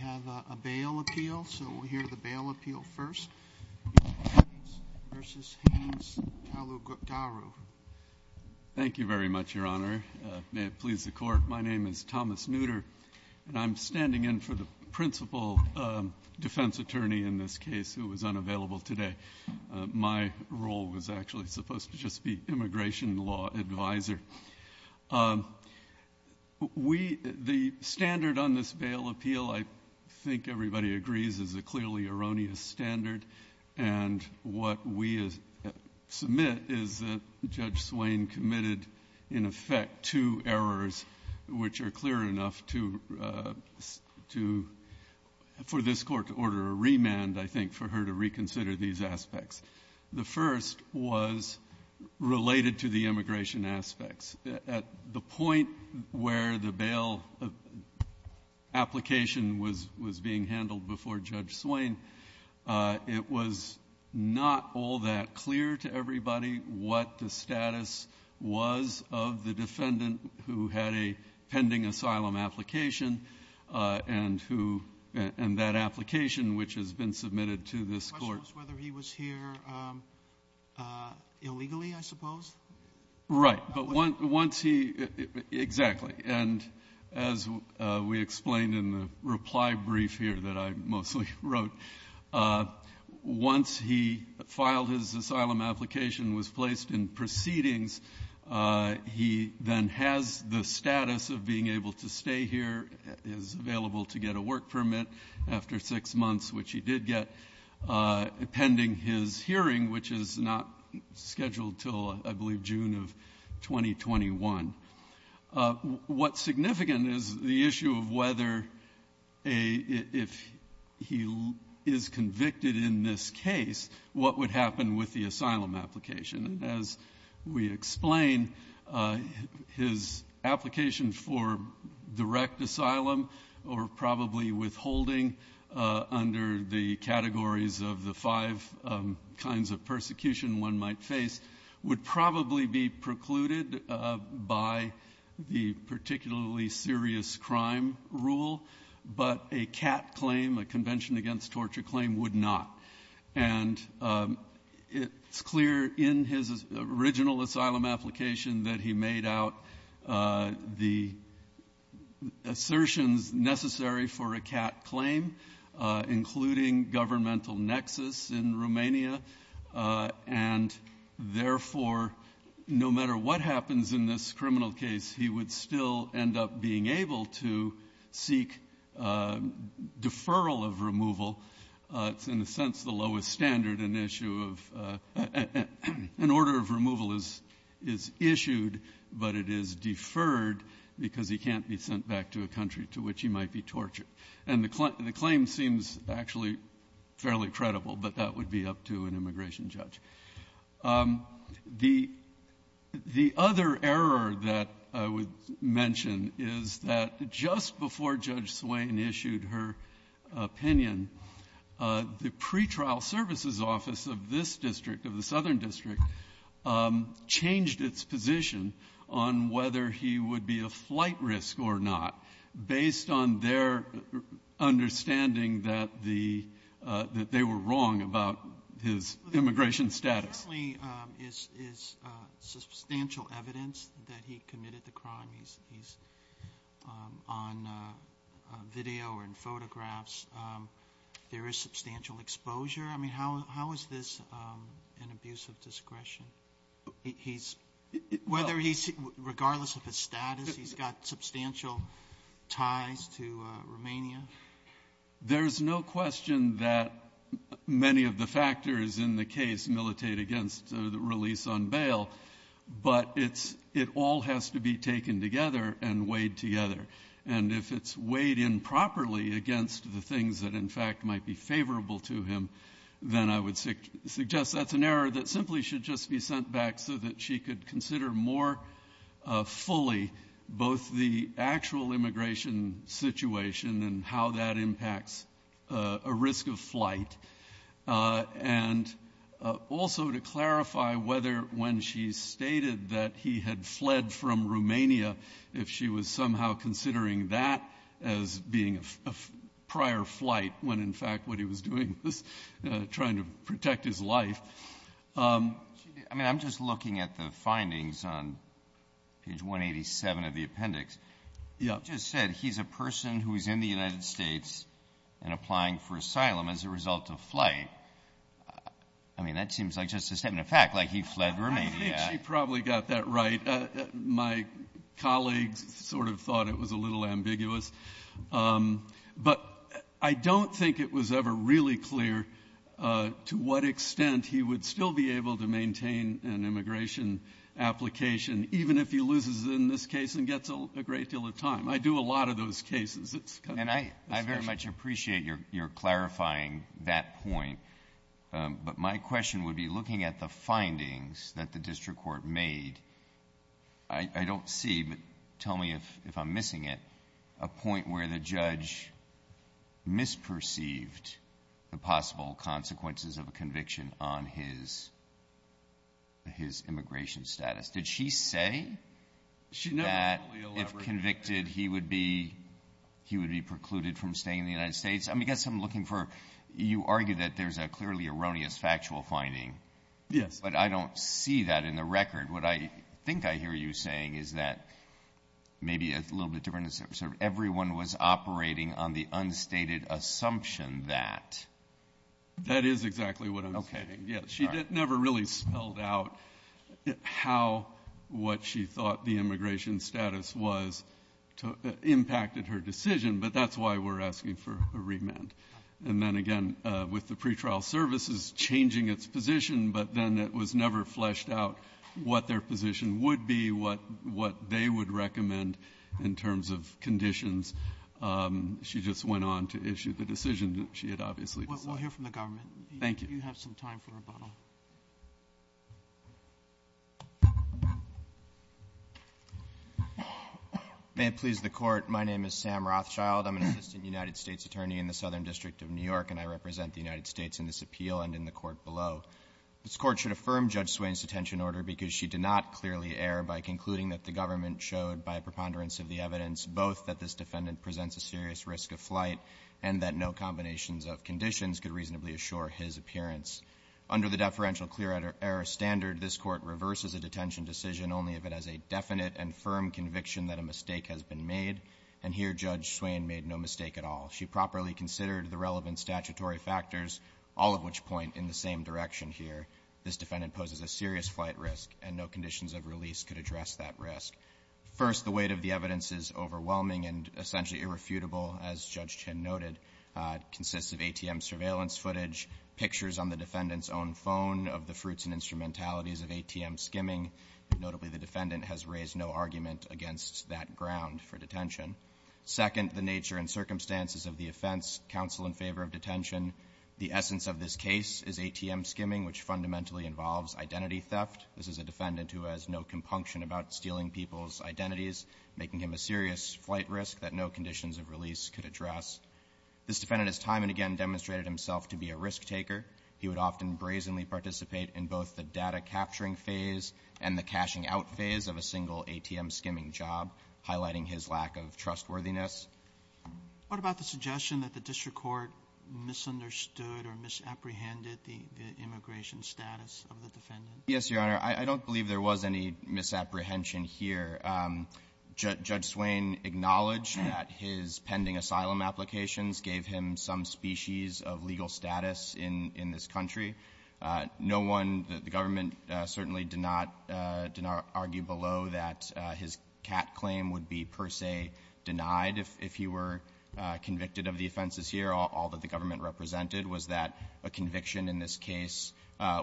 We have a bail appeal, so we'll hear the bail appeal first. Versus Haynes Talugaru. Thank you very much, Your Honor. May it please the Court. My name is Thomas Nutter, and I'm standing in for the principal defense attorney in this case who was unavailable today. My role was actually supposed to just be immigration law advisor. The standard on this bail appeal, I think everybody agrees, is a clearly erroneous standard. And what we submit is that Judge Swain committed, in effect, two errors which are clear enough for this Court to order a remand, I think, for her to reconsider these aspects. The first was related to the immigration aspects. At the point where the bail application was being handled before Judge Swain, it was not all that clear to everybody what the status was of the defendant who had a pending asylum application and that application which has been submitted to this Court. The question was whether he was here illegally, I suppose? Right. Exactly. And as we explained in the reply brief here that I mostly wrote, once he filed his asylum application, was placed in proceedings, he then has the status of being able to stay here, is available to get a work permit after six months, which he did get pending his hearing, which is not scheduled till, I believe, June of 2021. What's significant is the issue of whether if he is convicted in this case, what would happen with the asylum application. As we explain, his application for direct asylum, or probably withholding under the categories of the five kinds of persecution one might face, would probably be precluded by the particularly serious crime rule. But a CAT claim, a Convention Against Torture claim, would not. And it's clear in his original asylum application that he made out the assertions necessary for a CAT claim, including governmental nexus in Romania. And therefore, no matter what happens in this criminal case, he would still end up being able to seek deferral of removal. It's, in a sense, the lowest standard an issue of an order of removal is issued, but it is deferred because he can't be sent back to a country to which he might be tortured. And the claim seems actually fairly credible, but that would be up to an immigration judge. The other error that I would mention is that just before Judge Swain issued her opinion, the pretrial services office of this district, of the Southern District, changed its position on whether he would be a flight risk or not, based on their understanding that the they were wrong about his immigration status. Roberts. Sotomayor is substantial evidence that he committed the crime. He's on video or in photographs. There is substantial exposure. I mean, how is this an abuse of discretion? Whether he's, regardless of his status, he's got substantial ties to Romania? There's no question that many of the factors in the case militate against the release on bail, but it all has to be taken together and weighed together. And if it's weighed improperly against the things that, in fact, might be favorable to him, then I would suggest that's an error that simply should just be sent back so that she could consider more fully both the actual immigration situation and how that impacts a risk of flight, and also to clarify whether, when she stated that he had fled from Romania, if she was somehow considering that as being a prior flight when, in fact, what he was doing was trying to protect his life. I mean, I'm just looking at the findings on page 187 of the appendix. You just said he's a person who is in the United States and applying for asylum as a result of flight. I mean, that seems like just a statement of fact, like he fled Romania. I think she probably got that right. My colleagues sort of thought it was a little ambiguous. But I don't think it was ever really clear to what extent he would still be able to maintain an immigration application, even if he loses in this case and gets a great deal of time. I do a lot of those cases. It's kind of a discussion. And I very much appreciate your clarifying that point. But my question would be looking at the findings that the district court made. I don't see, but tell me if I'm missing it, a point where the judge misperceived the possible consequences of a conviction on his immigration status. Did she say that if convicted, he would be precluded from staying in the United States? I mean, I guess I'm looking for, you argue that there's a clearly erroneous factual finding. Yes. But I don't see that in the record. What I think I hear you saying is that maybe it's a little bit different. Everyone was operating on the unstated assumption that. That is exactly what I'm saying. She never really spelled out how what she thought the immigration status was impacted her decision. But that's why we're asking for a remand. And then again, with the pretrial services changing its position, but then it was never fleshed out what their position would be, what they would recommend in terms of conditions. She just went on to issue the decision that she had obviously decided. We'll hear from the government. Thank you. You have some time for rebuttal. May it please the court. My name is Sam Rothschild. I'm an assistant United States attorney in the Southern District of New York. And I represent the United States in this appeal and in the court below. This court should affirm Judge Swain's detention order because she did not clearly err by concluding that the government showed by preponderance of the evidence both that this defendant presents a serious risk of flight and that no combinations of conditions could reasonably assure his appearance. Under the deferential clear error standard, this court reverses a detention decision only if it has a definite and firm conviction that a mistake has been made. And here, Judge Swain made no mistake at all. She properly considered the relevant statutory factors, all of which point in the same direction here. This defendant poses a serious flight risk, and no conditions of release could address that risk. First, the weight of the evidence is overwhelming and essentially irrefutable, as Judge Chin noted. Consists of ATM surveillance footage, pictures on the defendant's own phone of the fruits and instrumentalities of ATM skimming. Notably, the defendant has raised no argument against that ground for detention. Second, the nature and circumstances of the offense, counsel in favor of detention. The essence of this case is ATM skimming, which fundamentally involves identity theft. This is a defendant who has no compunction about stealing people's identities, making him a serious flight risk that no conditions of release could address. This defendant has time and again demonstrated himself to be a risk taker. He would often brazenly participate in both the data capturing phase and the cashing out phase of a single ATM skimming job, highlighting his lack of trustworthiness. What about the suggestion that the district court misunderstood or misapprehended the immigration status of the defendant? Yes, Your Honor, I don't believe there was any misapprehension here. Judge Swain acknowledged that his pending asylum applications gave him some species of legal status in this country. No one, the government certainly did not argue below that his CAT claim would be per se denied if he were convicted of the offenses here. All that the government represented was that a conviction in this case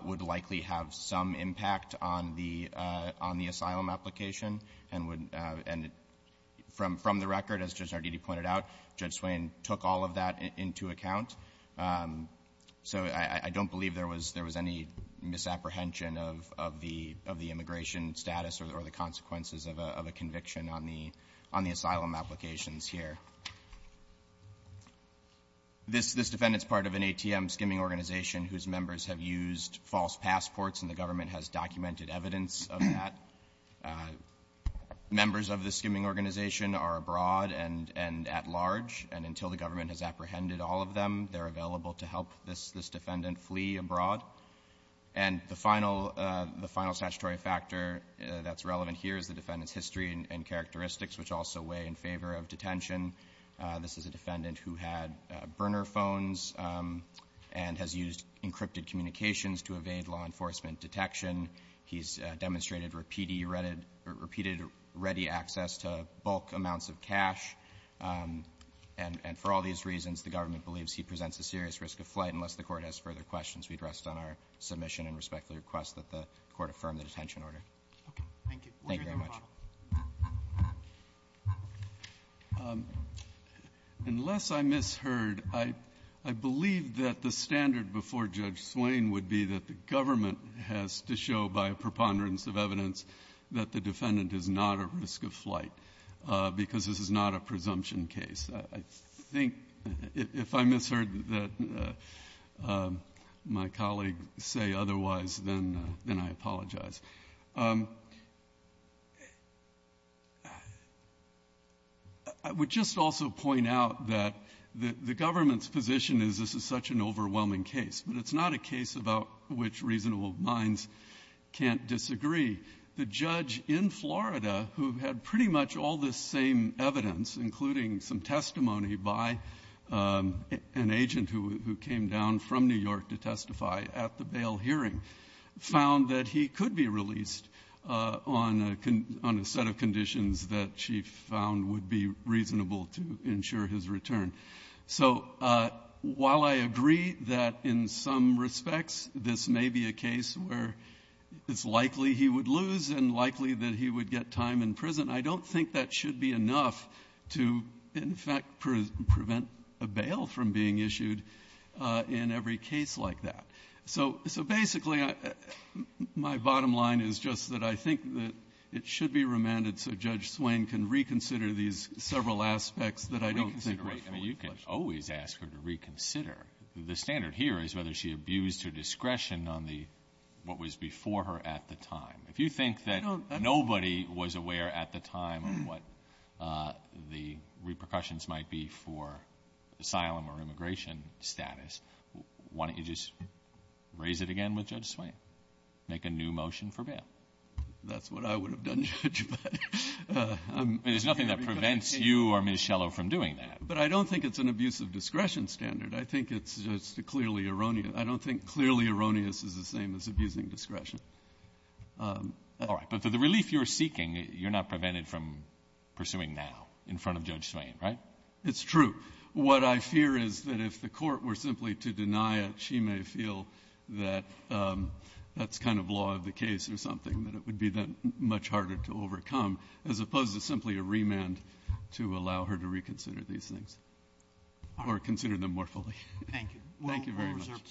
would likely have some impact on the asylum application. From the record, as Judge Sardini pointed out, Judge Swain took all of that into account. So I don't believe there was any misapprehension of the immigration status or the consequences of a conviction on the asylum applications here. This defendant's part of an ATM skimming organization whose members have used false passports and the government has documented evidence of that. Members of the skimming organization are abroad and at large, and until the government has apprehended all of them, they're available to help this defendant flee abroad. And the final statutory factor that's relevant here is the defendant's history and characteristics, which also weigh in favor of detention. This is a defendant who had burner phones and has used encrypted communications to evade law enforcement detection. He's demonstrated repeated ready access to bulk amounts of cash. And for all these reasons, the government believes he presents a serious risk of flight unless the court has further questions. We'd rest on our submission and respectfully request that the court affirm the detention order. Okay, thank you. Thank you very much. Unless I misheard, I believe that the standard before Judge Swain would be that the government has to show by a preponderance of evidence that the defendant is not at risk of flight because this is not a presumption case. I think if I misheard that my colleague say otherwise, then I apologize. I would just also point out that the government's position is this is such an overwhelming case, but it's not a case about which reasonable minds can't disagree. The judge in Florida who had pretty much all this same evidence, including some testimony by an agent who came down from New York to testify at the bail hearing, found that he could be released on a set of conditions that she found would be reasonable to ensure his return. So while I agree that in some respects this may be a case where it's likely he would lose and likely that he would get time in prison, I don't think that should be enough to in fact prevent a bail from being issued in every case like that. So basically my bottom line is just that I think that it should be remanded so Judge Swain can reconsider these several aspects that I don't think are fully fledged. I mean, you can always ask her to reconsider. The standard here is whether she abused her discretion on what was before her at the time. If you think that nobody was aware at the time of what the repercussions might be for asylum or immigration status, why don't you just raise it again with Judge Swain? Make a new motion for bail. That's what I would have done, Judge, but I'm. There's nothing that prevents you or Ms. Schellow from doing that. But I don't think it's an abuse of discretion standard. I think it's just a clearly erroneous. I don't think clearly erroneous is the same as abusing discretion. All right, but for the relief you're seeking, you're not prevented from pursuing now in front of Judge Swain, right? It's true. What I fear is that if the court were simply to deny it, she may feel that that's kind of law of the case or something that it would be then much harder to overcome as opposed to simply a remand to allow her to reconsider these things or consider them more fully. Thank you. Thank you very much.